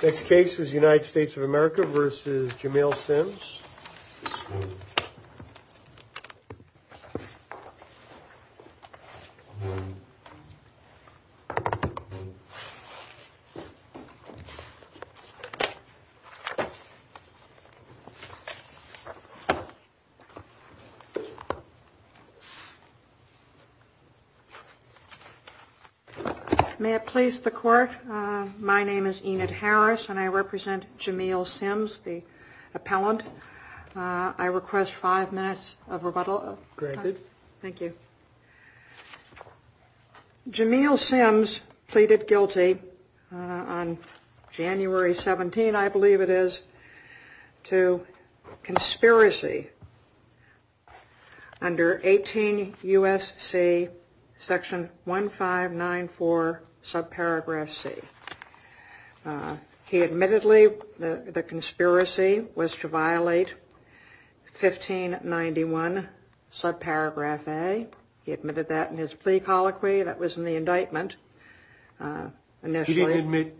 This case is United States of America v. Jamil Sims. May it please the Court, my name is Enid Harris and I represent Jamil Sims, the request five minutes of rebuttal. Thank you. Jamil Sims pleaded guilty on January 17, I believe it is, to conspiracy under 18 U.S.C. section 1594 subparagraph C. He admittedly the conspiracy was to violate 1591 subparagraph A. He admitted that in his plea colloquy that was in the indictment initially.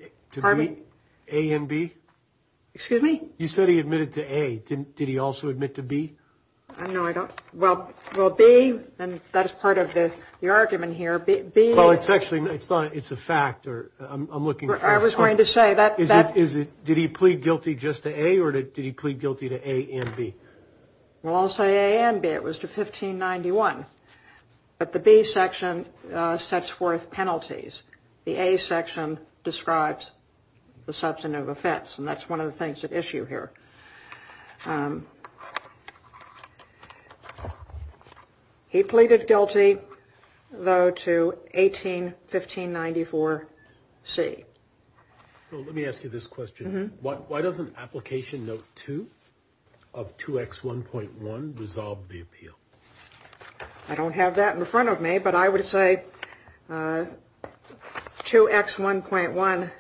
Excuse me? You said he admitted to A, did he also admit to B? No, I don't. Well, B, and that is part of the argument here. Well, it's actually, it's not, it's a fact or I'm looking for. I was going to say that. Did he plead guilty just to A or did he plead guilty to A and B? Well, I'll say A and B. It was to 1591. But the B section sets forth penalties. The A section describes the substantive effects and that's one of the things at issue here. He pleaded guilty, though, to 181594 C. Let me ask you this question. Why doesn't application note 2 of 2X1.1 resolve the appeal? I don't have that in front of me, but I would say 2X1.1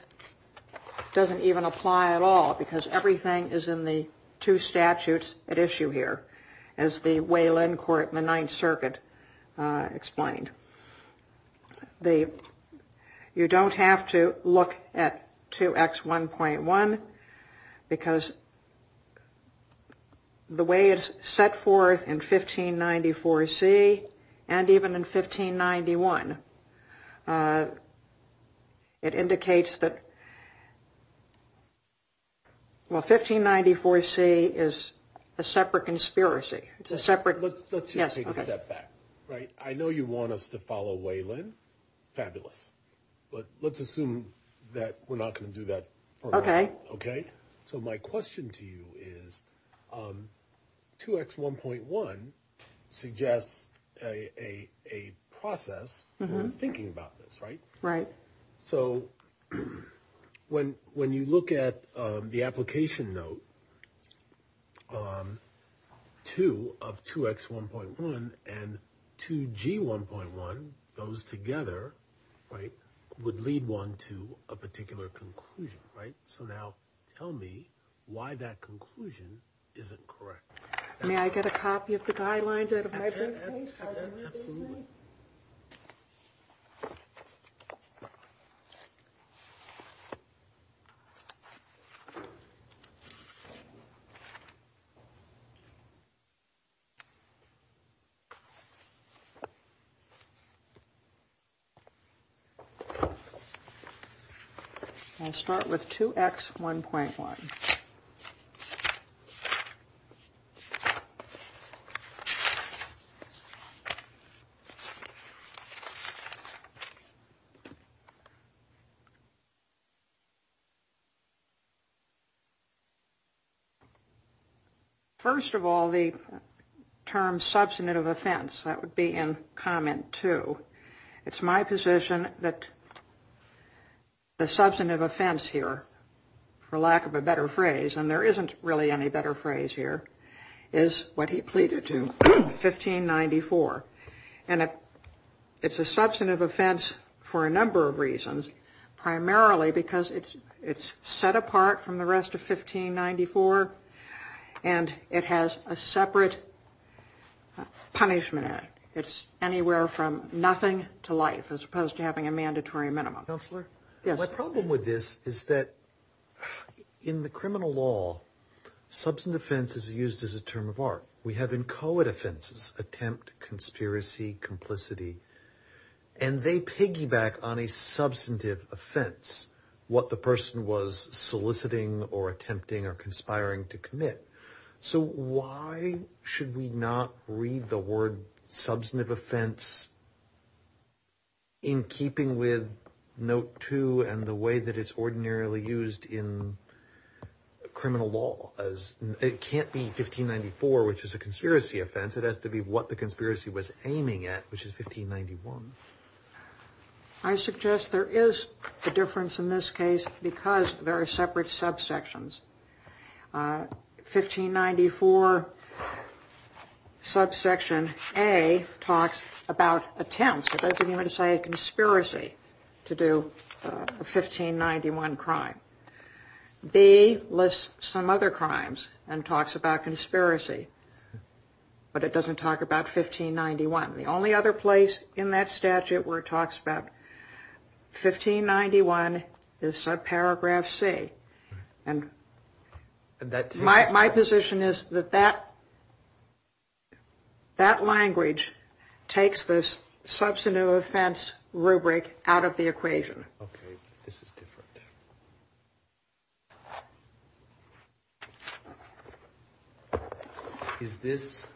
doesn't even apply at all because everything is in the two statutes at issue here, as the Wayland Court in the Ninth Circuit explained. You don't have to look at 2X1.1 because the way it's set forth in 1594 C and even in 1591, it indicates that, well, 1594 C is a separate conspiracy. Let's just take a step back. I know you want us to follow Wayland. Fabulous. But let's assume that we're not going to do that. Okay. Okay. So my question to you is 2X1.1 suggests a process in thinking about this, right? Right. So when when you look at the application note 2 of 2X1.1 and 2G1.1, those together, right, would lead one to a particular conclusion. Right. So now tell me why that conclusion isn't correct. May I get a copy of the guidelines out of my briefcase? Absolutely. Absolutely. Okay. First of all, the term substantive offense, that would be in comment 2. It's my position that the substantive offense here, for lack of a better phrase, and there isn't really any better phrase here, is what he pleaded to, 1594. And it's a substantive offense for a number of reasons, primarily because it's set apart from the rest of 1594, and it has a separate punishment in it. It's anywhere from nothing to life, as opposed to having a mandatory minimum. Counselor? Yes. My problem with this is that in the criminal law, substantive offense is used as a term of art. We have inchoate offenses, attempt, conspiracy, complicity, and they piggyback on a substantive offense, what the person was soliciting or attempting or conspiring to commit. So why should we not read the word substantive offense in keeping with note 2 and the way that it's ordinarily used in criminal law? It can't be 1594, which is a conspiracy offense. It has to be what the conspiracy was aiming at, which is 1591. I suggest there is a difference in this case because there are separate subsections. 1594 subsection A talks about attempts. It doesn't even say conspiracy to do a 1591 crime. B lists some other crimes and talks about conspiracy, but it doesn't talk about 1591. The only other place in that statute where it talks about 1591 is subparagraph C. And my position is that that language takes this substantive offense rubric out of the equation. Okay. This is different. Is this?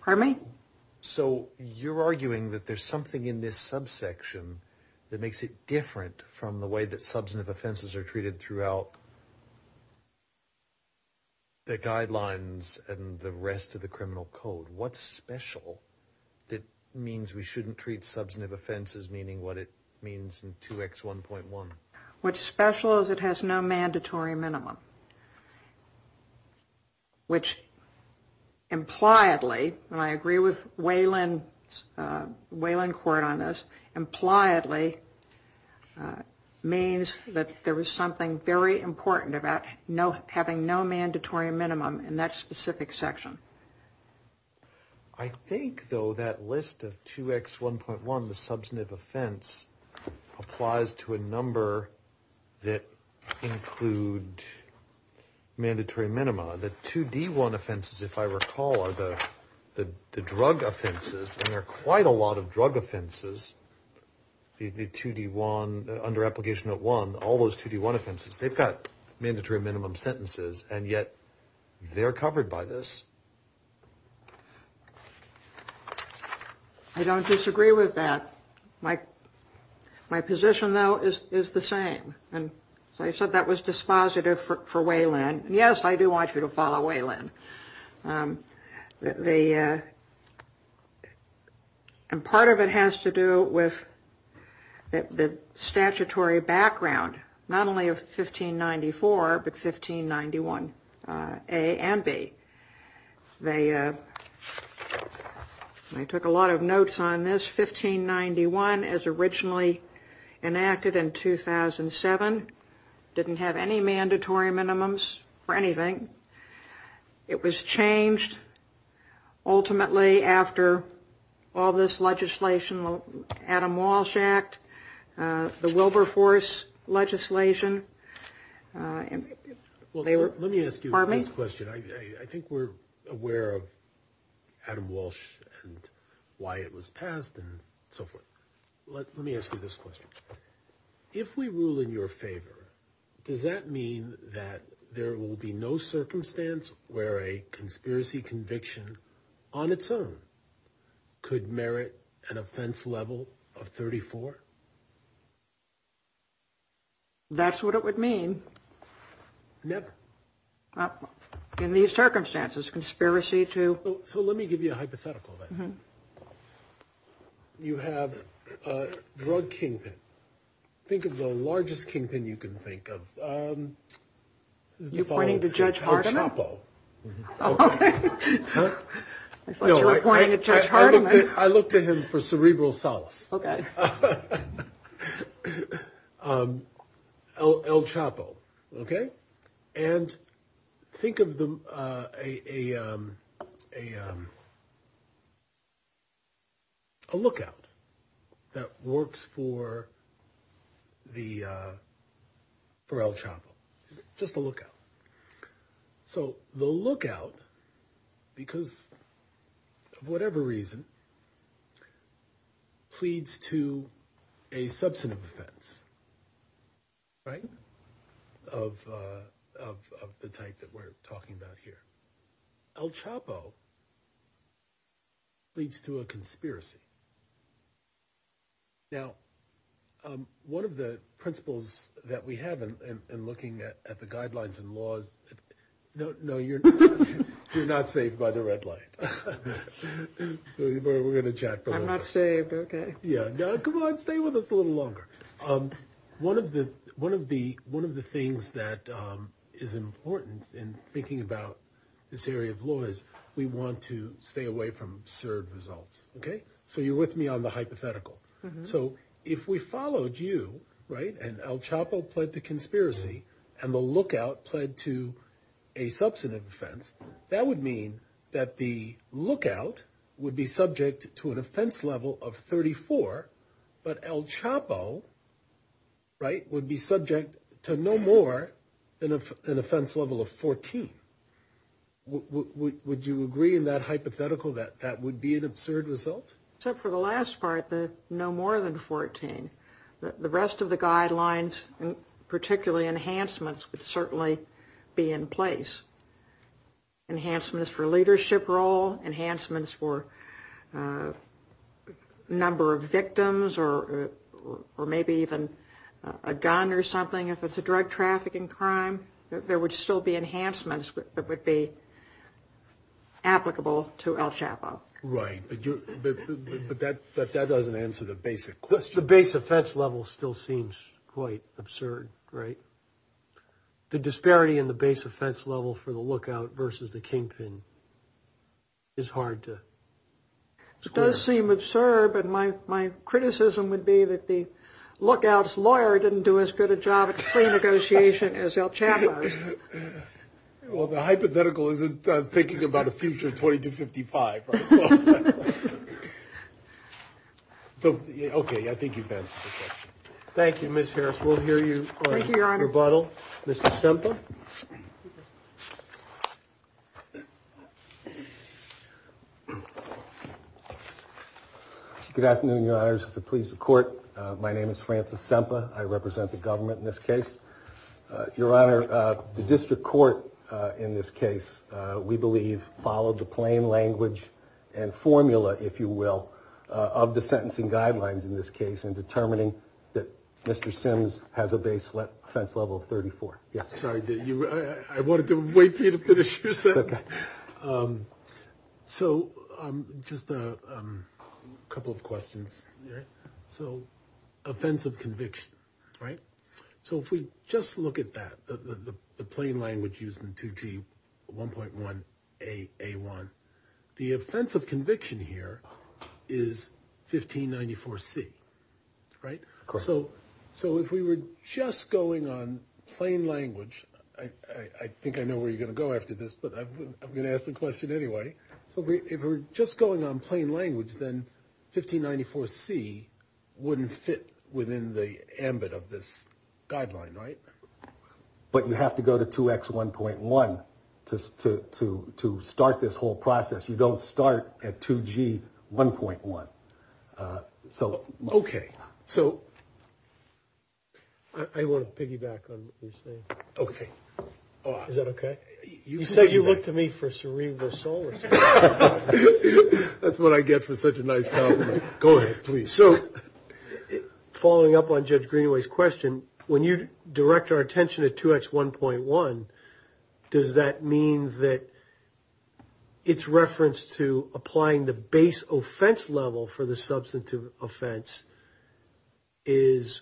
Pardon me? So you're arguing that there's something in this subsection that makes it different from the way that substantive offenses are treated throughout the guidelines and the rest of the criminal code. What's special that means we shouldn't treat substantive offenses meaning what it means in 2X1.1? What's special is it has no mandatory minimum. Which impliedly, and I agree with Waylon Court on this, impliedly means that there was something very important about having no mandatory minimum in that specific section. I think, though, that list of 2X1.1, the substantive offense, applies to a number that include mandatory minima. The 2D1 offenses, if I recall, are the drug offenses, and there are quite a lot of drug offenses. The 2D1, under application of 1, all those 2D1 offenses, they've got mandatory minimum sentences, and yet they're covered by this. I don't disagree with that. My position, though, is the same. And so I said that was dispositive for Waylon. Yes, I do want you to follow Waylon. Part of it has to do with the statutory background, not only of 1594, but 1591A and B. They took a lot of notes on this. 1591, as originally enacted in 2007, didn't have any mandatory minimums for anything. It was changed ultimately after all this legislation, Adam Walsh Act, the Wilberforce legislation. Well, let me ask you this question. I think we're aware of Adam Walsh and why it was passed and so forth. Let me ask you this question. If we rule in your favor, does that mean that there will be no circumstance where a conspiracy conviction on its own could merit an offense level of 34? That's what it would mean. Never. In these circumstances, conspiracy to... So let me give you a hypothetical then. You have a drug kingpin. Think of the largest kingpin you can think of. Are you pointing to Judge Hardiman? Okay. I thought you were pointing at Judge Hardiman. I looked at him for cerebral solace. Okay. El Chapo. Okay. And think of a lookout that works for El Chapo. Just a lookout. So the lookout, because of whatever reason, pleads to a substantive offense, right, of the type that we're talking about here. El Chapo leads to a conspiracy. Now, one of the principles that we have in looking at the guidelines and laws... No, you're not saved by the red light. We're going to chat for a little bit. I'm not saved, okay. Yeah. Come on, stay with us a little longer. One of the things that is important in thinking about this area of law is we want to stay away from absurd results, okay? So you're with me on the hypothetical. So if we followed you, right, and El Chapo pled to conspiracy and the lookout pled to a substantive offense, that would mean that the lookout would be subject to an offense level of 34, but El Chapo, right, would be subject to no more than an offense level of 14. Would you agree in that hypothetical that that would be an absurd result? Except for the last part, no more than 14. The rest of the guidelines, particularly enhancements, would certainly be in place. Enhancements for leadership role, enhancements for number of victims or maybe even a gun or something if it's a drug trafficking crime. There would still be enhancements that would be applicable to El Chapo. Right, but that doesn't answer the basic question. The base offense level still seems quite absurd, right? The disparity in the base offense level for the lookout versus the kingpin is hard to. It does seem absurd, but my criticism would be that the lookout's lawyer didn't do as good a job at negotiation as El Chapo. Well, the hypothetical isn't thinking about a future 2255. So, OK, I think you've answered the question. Thank you, Ms. Harris. We'll hear you. Thank you, Your Honor. Mr. Semper. Good afternoon, Your Honors. If it pleases the court, my name is Francis Semper. I represent the government in this case. Your Honor, the district court in this case, we believe, followed the plain language and formula, if you will, of the sentencing guidelines in this case in determining that Mr. Sims has a base offense level of 34. Sorry, I wanted to wait for you to finish your sentence. So just a couple of questions. So offense of conviction, right? So if we just look at that, the plain language used in 2G 1.1 AA1, the offense of conviction here is 1594C, right? Correct. So if we were just going on plain language, I think I know where you're going to go after this, but I'm going to ask the question anyway. So if we're just going on plain language, then 1594C wouldn't fit within the ambit of this guideline, right? But you have to go to 2X 1.1 to start this whole process. You don't start at 2G 1.1. Okay. So I want to piggyback on what you're saying. Okay. Is that okay? You said you looked to me for cerebral psoriasis. That's what I get for such a nice compliment. Go ahead, please. So following up on Judge Greenaway's question, when you direct our attention to 2X 1.1, does that mean that its reference to applying the base offense level for the substantive offense is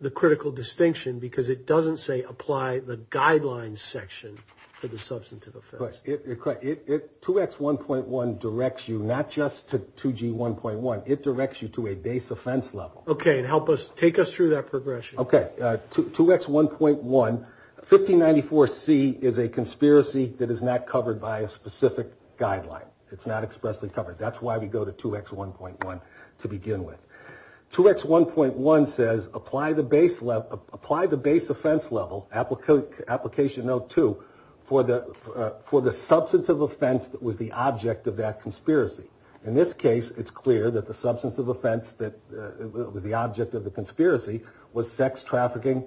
the critical distinction? Because it doesn't say apply the guidelines section for the substantive offense. Correct. 2X 1.1 directs you not just to 2G 1.1. It directs you to a base offense level. Okay. And take us through that progression. Okay. 2X 1.1, 1594C is a conspiracy that is not covered by a specific guideline. It's not expressly covered. That's why we go to 2X 1.1 to begin with. 2X 1.1 says apply the base offense level, application note 2, for the substantive offense that was the object of that conspiracy. In this case, it's clear that the substantive offense that was the object of the conspiracy was sex trafficking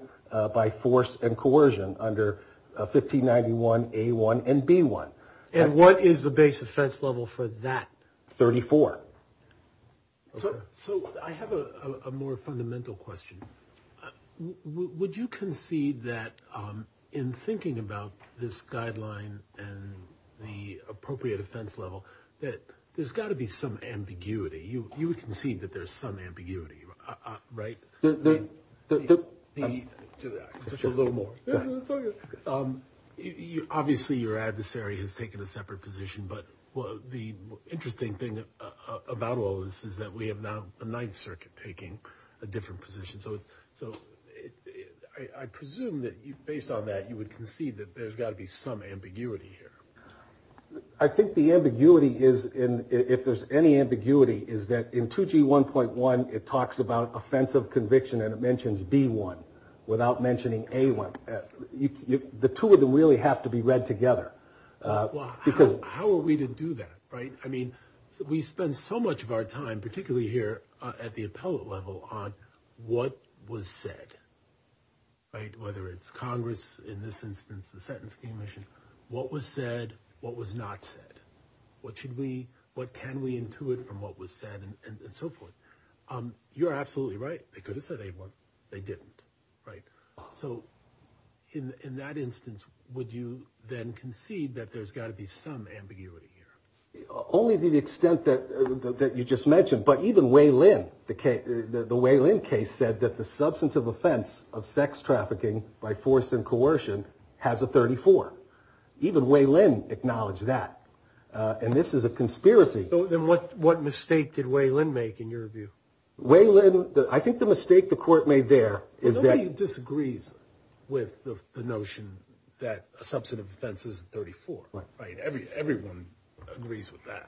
by force and coercion under 1591A1 and B1. And what is the base offense level for that? 34. So I have a more fundamental question. Would you concede that in thinking about this guideline and the appropriate offense level, that there's got to be some ambiguity? You would concede that there's some ambiguity, right? Just a little more. Obviously, your adversary has taken a separate position, but the interesting thing about all this is that we have now the Ninth Circuit taking a different position. So I presume that, based on that, you would concede that there's got to be some ambiguity here. I think the ambiguity is, if there's any ambiguity, is that in 2G 1.1 it talks about offensive conviction, and it mentions B1 without mentioning A1. The two of them really have to be read together. Well, how are we to do that, right? I mean, we spend so much of our time, particularly here at the appellate level, on what was said, right? Whether it's Congress, in this instance, the sentencing commission, what was said, what was not said. What should we, what can we intuit from what was said, and so forth. You're absolutely right. They could have said A1. They didn't, right? So in that instance, would you then concede that there's got to be some ambiguity here? Only to the extent that you just mentioned. But even Wei Lin, the Wei Lin case, said that the substance of offense of sex trafficking by force and coercion has a 34. Even Wei Lin acknowledged that. And this is a conspiracy. So then what mistake did Wei Lin make, in your view? Wei Lin, I think the mistake the court made there is that— Everyone agrees with the notion that a substance of offense is 34, right? Everyone agrees with that.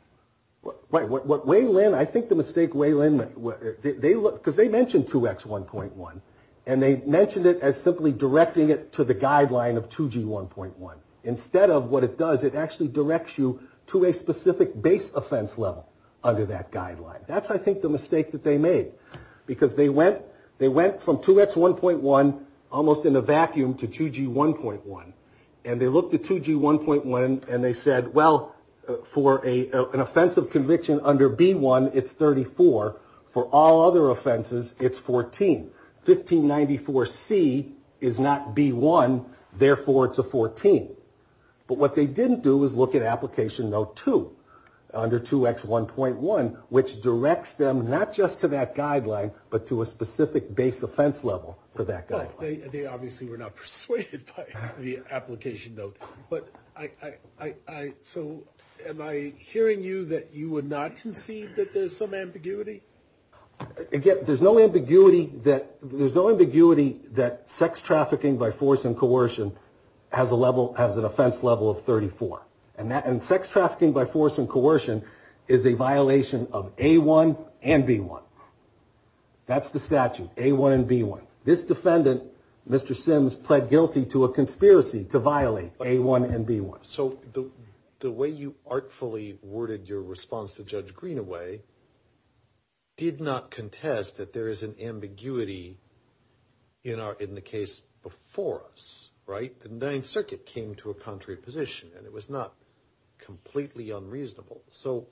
Right. What Wei Lin, I think the mistake Wei Lin made, because they mentioned 2X1.1, and they mentioned it as simply directing it to the guideline of 2G1.1. Instead of what it does, it actually directs you to a specific base offense level under that guideline. That's, I think, the mistake that they made. Because they went from 2X1.1, almost in a vacuum, to 2G1.1. And they looked at 2G1.1, and they said, well, for an offensive conviction under B1, it's 34. For all other offenses, it's 14. 1594C is not B1, therefore it's a 14. But what they didn't do was look at Application Note 2, under 2X1.1, which directs them not just to that guideline, but to a specific base offense level for that guideline. They obviously were not persuaded by the Application Note. So am I hearing you that you would not concede that there's some ambiguity? Again, there's no ambiguity that sex trafficking by force and coercion has an offense level of 34. And sex trafficking by force and coercion is a violation of A1 and B1. That's the statute, A1 and B1. This defendant, Mr. Sims, pled guilty to a conspiracy to violate A1 and B1. So the way you artfully worded your response to Judge Greenaway did not contest that there is an ambiguity in the case before us, right? The Ninth Circuit came to a contrary position, and it was not completely unreasonable. So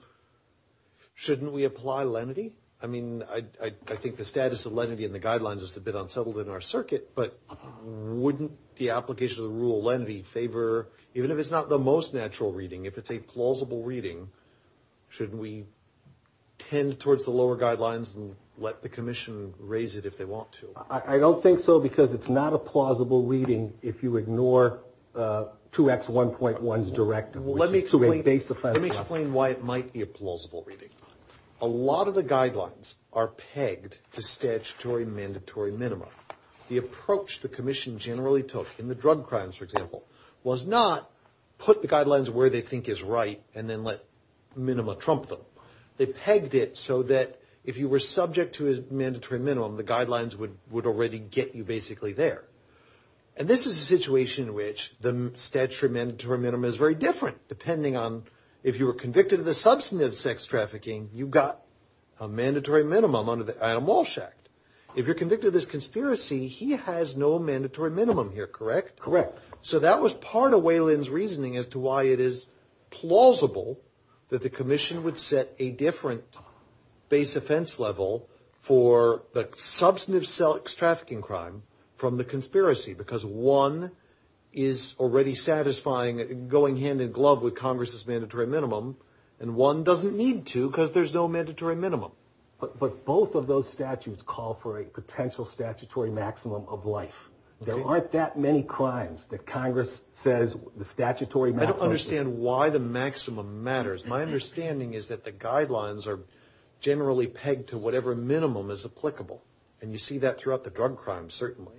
shouldn't we apply lenity? I mean, I think the status of lenity in the guidelines is a bit unsettled in our circuit, but wouldn't the application of the rule of lenity favor, even if it's not the most natural reading, if it's a plausible reading, shouldn't we tend towards the lower guidelines and let the commission raise it if they want to? I don't think so because it's not a plausible reading if you ignore 2X1.1's directive. Let me explain why it might be a plausible reading. A lot of the guidelines are pegged to statutory mandatory minima. The approach the commission generally took in the drug crimes, for example, was not put the guidelines where they think is right and then let minima trump them. They pegged it so that if you were subject to a mandatory minimum, the guidelines would already get you basically there. And this is a situation in which the statutory mandatory minima is very different, depending on if you were convicted of the substantive sex trafficking, you've got a mandatory minimum under the Adam Walsh Act. If you're convicted of this conspiracy, he has no mandatory minimum here, correct? Correct. So that was part of Weyland's reasoning as to why it is plausible that the commission would set a different base offense level for the substantive sex trafficking crime from the conspiracy because one is already satisfying, going hand in glove with Congress's mandatory minimum, and one doesn't need to because there's no mandatory minimum. But both of those statutes call for a potential statutory maximum of life. There aren't that many crimes that Congress says the statutory maximum. I don't understand why the maximum matters. My understanding is that the guidelines are generally pegged to whatever minimum is applicable, and you see that throughout the drug crimes, certainly.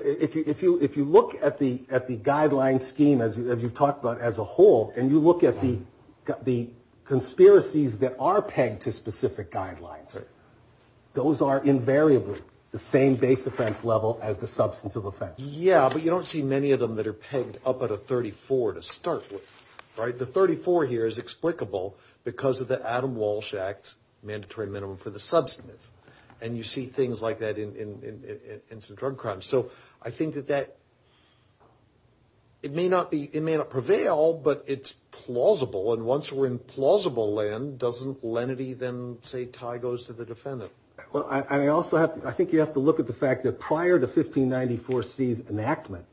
If you look at the guideline scheme, as you've talked about, as a whole, and you look at the conspiracies that are pegged to specific guidelines, those are invariably the same base offense level as the substantive offense. Yeah, but you don't see many of them that are pegged up at a 34 to start with, right? The 34 here is explicable because of the Adam Walsh Act's mandatory minimum for the substantive, and you see things like that in some drug crimes. So I think that it may not prevail, but it's plausible, and once we're in plausible land, doesn't lenity then, say, tie those to the defendant? Well, I think you have to look at the fact that prior to 1594C's enactment,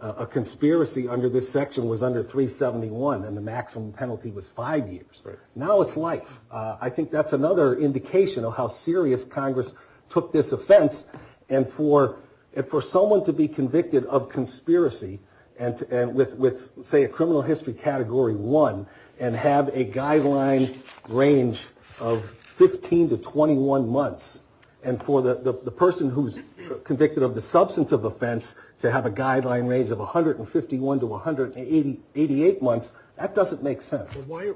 a conspiracy under this section was under 371, and the maximum penalty was five years. Now it's life. I think that's another indication of how serious Congress took this offense, and for someone to be convicted of conspiracy with, say, a criminal history category one, and have a guideline range of 15 to 21 months, and for the person who's convicted of the substantive offense to have a guideline range of 151 to 188 months, that doesn't make sense. I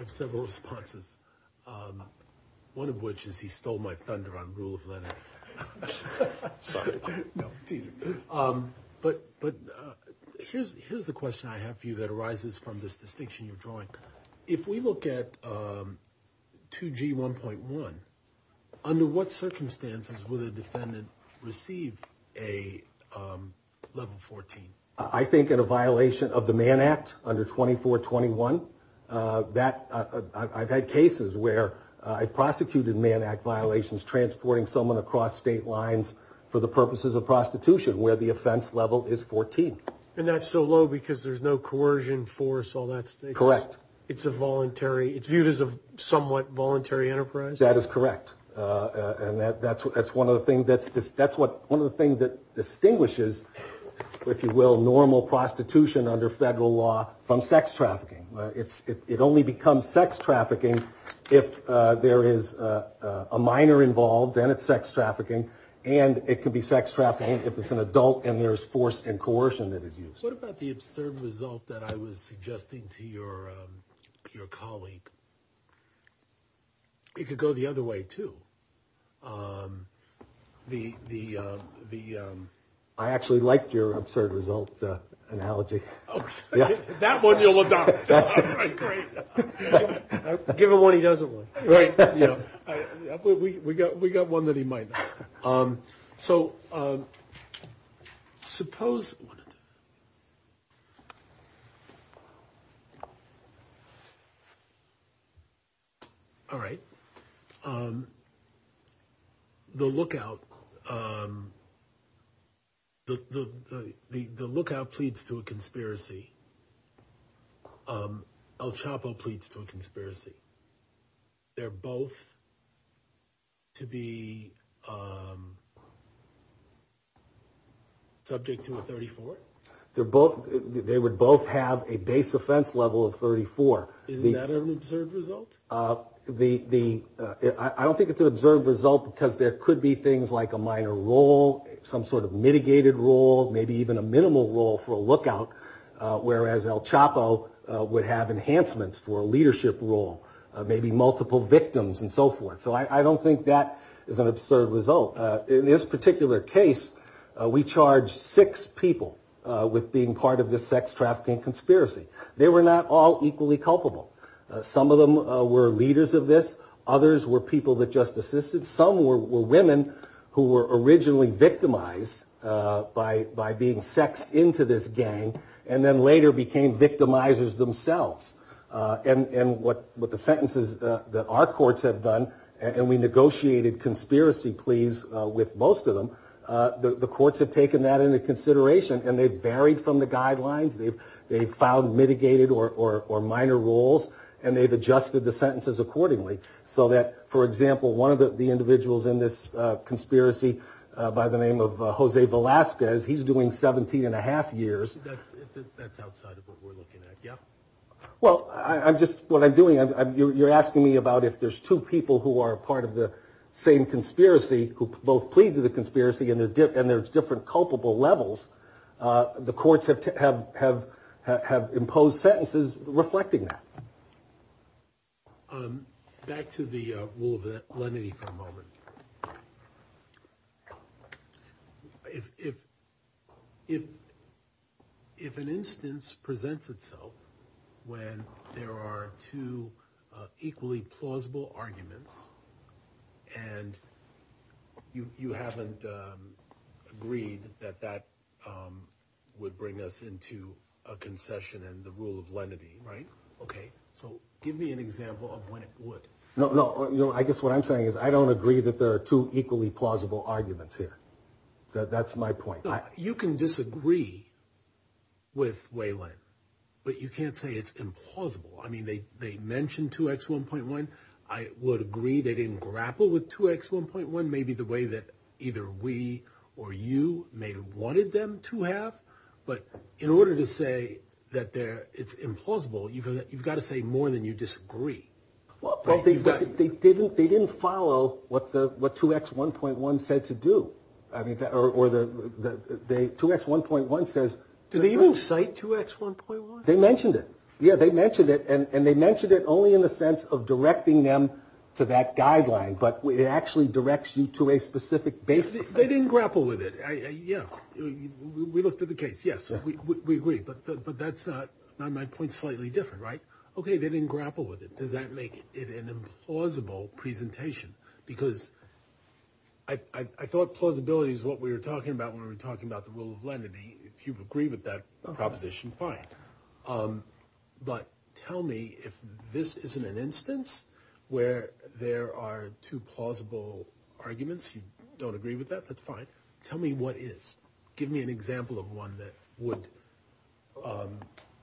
have several responses, one of which is he stole my thunder on rule of lenity. Sorry. No, it's easy. But here's the question I have for you that arises from this distinction you're drawing. If we look at 2G1.1, under what circumstances would a defendant receive a level 14? I think in a violation of the Mann Act under 2421. I've had cases where I've prosecuted Mann Act violations transporting someone across state lines for the purposes of prostitution where the offense level is 14. And that's so low because there's no coercion, force, all that. Correct. It's viewed as a somewhat voluntary enterprise? That is correct. And that's one of the things that distinguishes, if you will, normal prostitution under federal law from sex trafficking. It only becomes sex trafficking if there is a minor involved, then it's sex trafficking. And it could be sex trafficking if it's an adult and there's force and coercion that is used. What about the absurd result that I was suggesting to your colleague? It could go the other way, too. I actually liked your absurd result analogy. Okay. That one you'll adopt. All right, great. Give him one he doesn't want. Right. We got one that he might not. So suppose. All right. The lookout. The lookout pleads to a conspiracy. El Chapo pleads to a conspiracy. They're both to be subject to a 34? They would both have a base offense level of 34. Isn't that an absurd result? I don't think it's an absurd result because there could be things like a minor role, some sort of mitigated role, maybe even a minimal role for a lookout, whereas El Chapo would have enhancements for a leadership role, maybe multiple victims and so forth. So I don't think that is an absurd result. In this particular case, we charged six people with being part of this sex trafficking conspiracy. They were not all equally culpable. Some of them were leaders of this. Others were people that just assisted. Some were women who were originally victimized by being sexed into this gang and then later became victimizers themselves. And what the sentences that our courts have done, and we negotiated conspiracy pleas with most of them, the courts have taken that into consideration and they've varied from the guidelines. They've found mitigated or minor roles and they've adjusted the sentences accordingly so that, for example, one of the individuals in this conspiracy by the name of Jose Velasquez, he's doing 17 and a half years. That's outside of what we're looking at, yeah. Well, I'm just, what I'm doing, you're asking me about if there's two people who are part of the same conspiracy who both plead to the conspiracy and there's different culpable levels. The courts have imposed sentences reflecting that. Back to the rule of lenity for a moment. If an instance presents itself when there are two equally plausible arguments and you haven't agreed that that would bring us into a concession and the rule of lenity, right? Okay, so give me an example of when it would. No, I guess what I'm saying is I don't agree that there are two equally plausible arguments here. That's my point. You can disagree with Waylon, but you can't say it's implausible. I mean, they mentioned 2X1.1. I would agree they didn't grapple with 2X1.1 maybe the way that either we or you may have wanted them to have. But in order to say that it's implausible, you've got to say more than you disagree. Well, they didn't follow what 2X1.1 said to do. I mean, or 2X1.1 says. Do they even cite 2X1.1? They mentioned it. Yeah, they mentioned it. And they mentioned it only in the sense of directing them to that guideline. But it actually directs you to a specific basis. They didn't grapple with it. Yeah, we looked at the case. Yes, we agree. But that's not my point. Slightly different, right? Okay. They didn't grapple with it. Does that make it an implausible presentation? Because I thought plausibility is what we were talking about when we were talking about the rule of lenity. If you agree with that proposition, fine. But tell me if this isn't an instance where there are two plausible arguments. You don't agree with that. That's fine. Tell me what is. Give me an example of one that would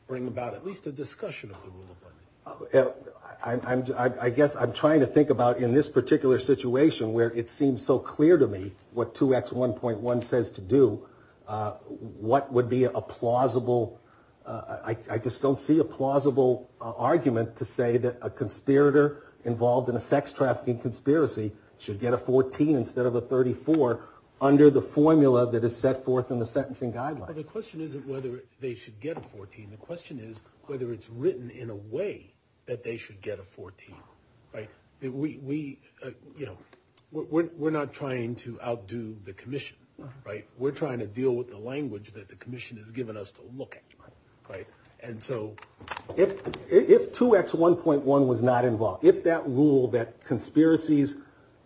bring about at least a discussion of the rule of lenity. I guess I'm trying to think about in this particular situation where it seems so clear to me what 2X1.1 says to do, what would be a plausible. I just don't see a plausible argument to say that a conspirator involved in a sex trafficking conspiracy should get a 14 instead of a 34 under the formula that is set forth in the sentencing guidelines. The question isn't whether they should get a 14. The question is whether it's written in a way that they should get a 14. We're not trying to outdo the commission. We're trying to deal with the language that the commission has given us to look at. If 2X1.1 was not involved, if that rule that conspiracies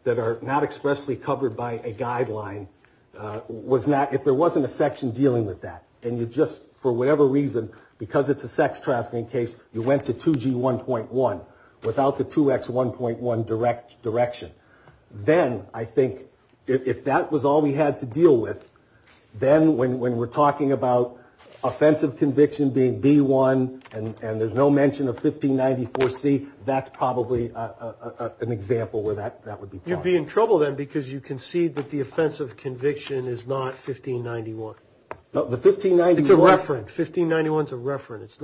that are not expressly covered by a guideline, if there wasn't a section dealing with that and you just, for whatever reason, because it's a sex trafficking case, you went to 2G1.1 without the 2X1.1 direction, then I think if that was all we had to deal with, then when we're talking about offensive conviction being B1 and there's no mention of 1594C, that's probably an example where that would be plausible. You'd be in trouble then because you concede that the offensive conviction is not 1591. It's a referent. 1591 is a referent.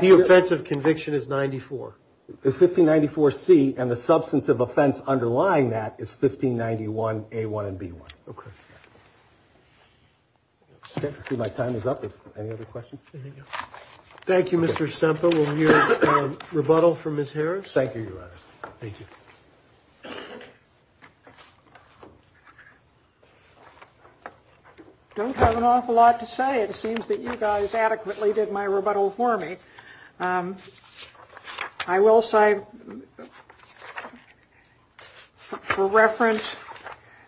The offensive conviction is 94. It's 1594C and the substantive offense underlying that is 1591A1 and B1. Okay. I see my time is up. Any other questions? Thank you, Mr. Semper. We'll hear rebuttal from Ms. Harris. Thank you. Thank you. Don't have an awful lot to say. It seems that you guys adequately did my rebuttal for me. I will say, for reference,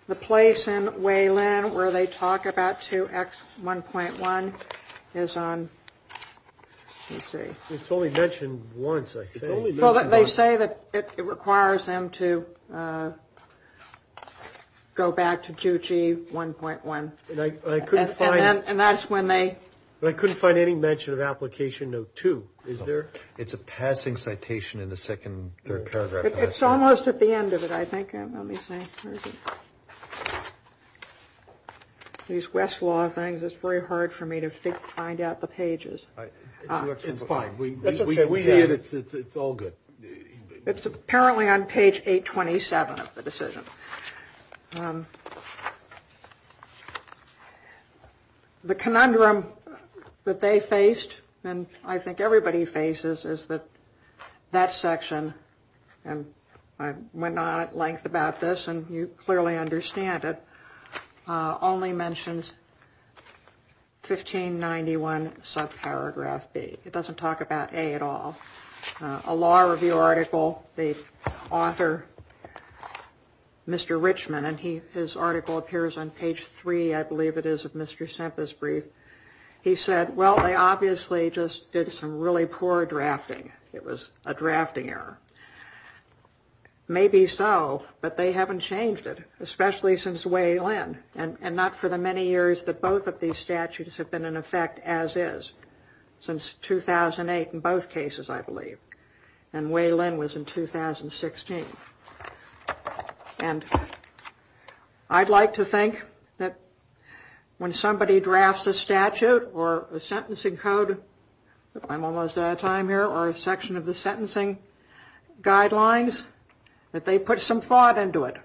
the place in Wayland where they talk about 2X1.1 is on, let's see. It's only mentioned once, I think. It's only mentioned once. Well, they say that it requires them to go back to 2G1.1. And I couldn't find it. And that's when they. I couldn't find any mention of Application No. 2. Is there? It's a passing citation in the second, third paragraph. It's almost at the end of it, I think. Let me see. These Westlaw things, it's very hard for me to find out the pages. It's fine. It's all good. It's apparently on page 827 of the decision. The conundrum that they faced, and I think everybody faces, is that that section, and I went on at length about this, and you clearly understand it, only mentions 1591 subparagraph B. It doesn't talk about A at all. A law review article, the author, Mr. Richman, and his article appears on page 3, I believe it is, of Mr. Simpson's brief. He said, well, they obviously just did some really poor drafting. It was a drafting error. Maybe so, but they haven't changed it, especially since way then, and not for the many years that both of these statutes have been in effect as is. Since 2008 in both cases, I believe. And way then was in 2016. And I'd like to think that when somebody drafts a statute or a sentencing code, I'm almost out of time here, or a section of the sentencing guidelines, that they put some thought into it.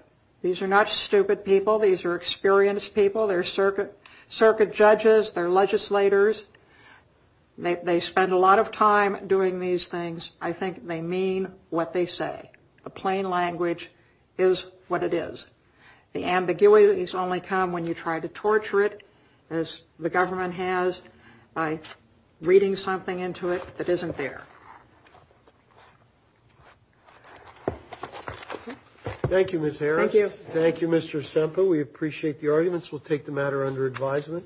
These are not stupid people. These are experienced people. They're circuit judges. They're legislators. They spend a lot of time doing these things. I think they mean what they say. The plain language is what it is. The ambiguities only come when you try to torture it, as the government has, by reading something into it that isn't there. Thank you, Ms. Harris. Thank you. Thank you, Mr. Simpson. We appreciate the arguments. We'll take the matter under advisement.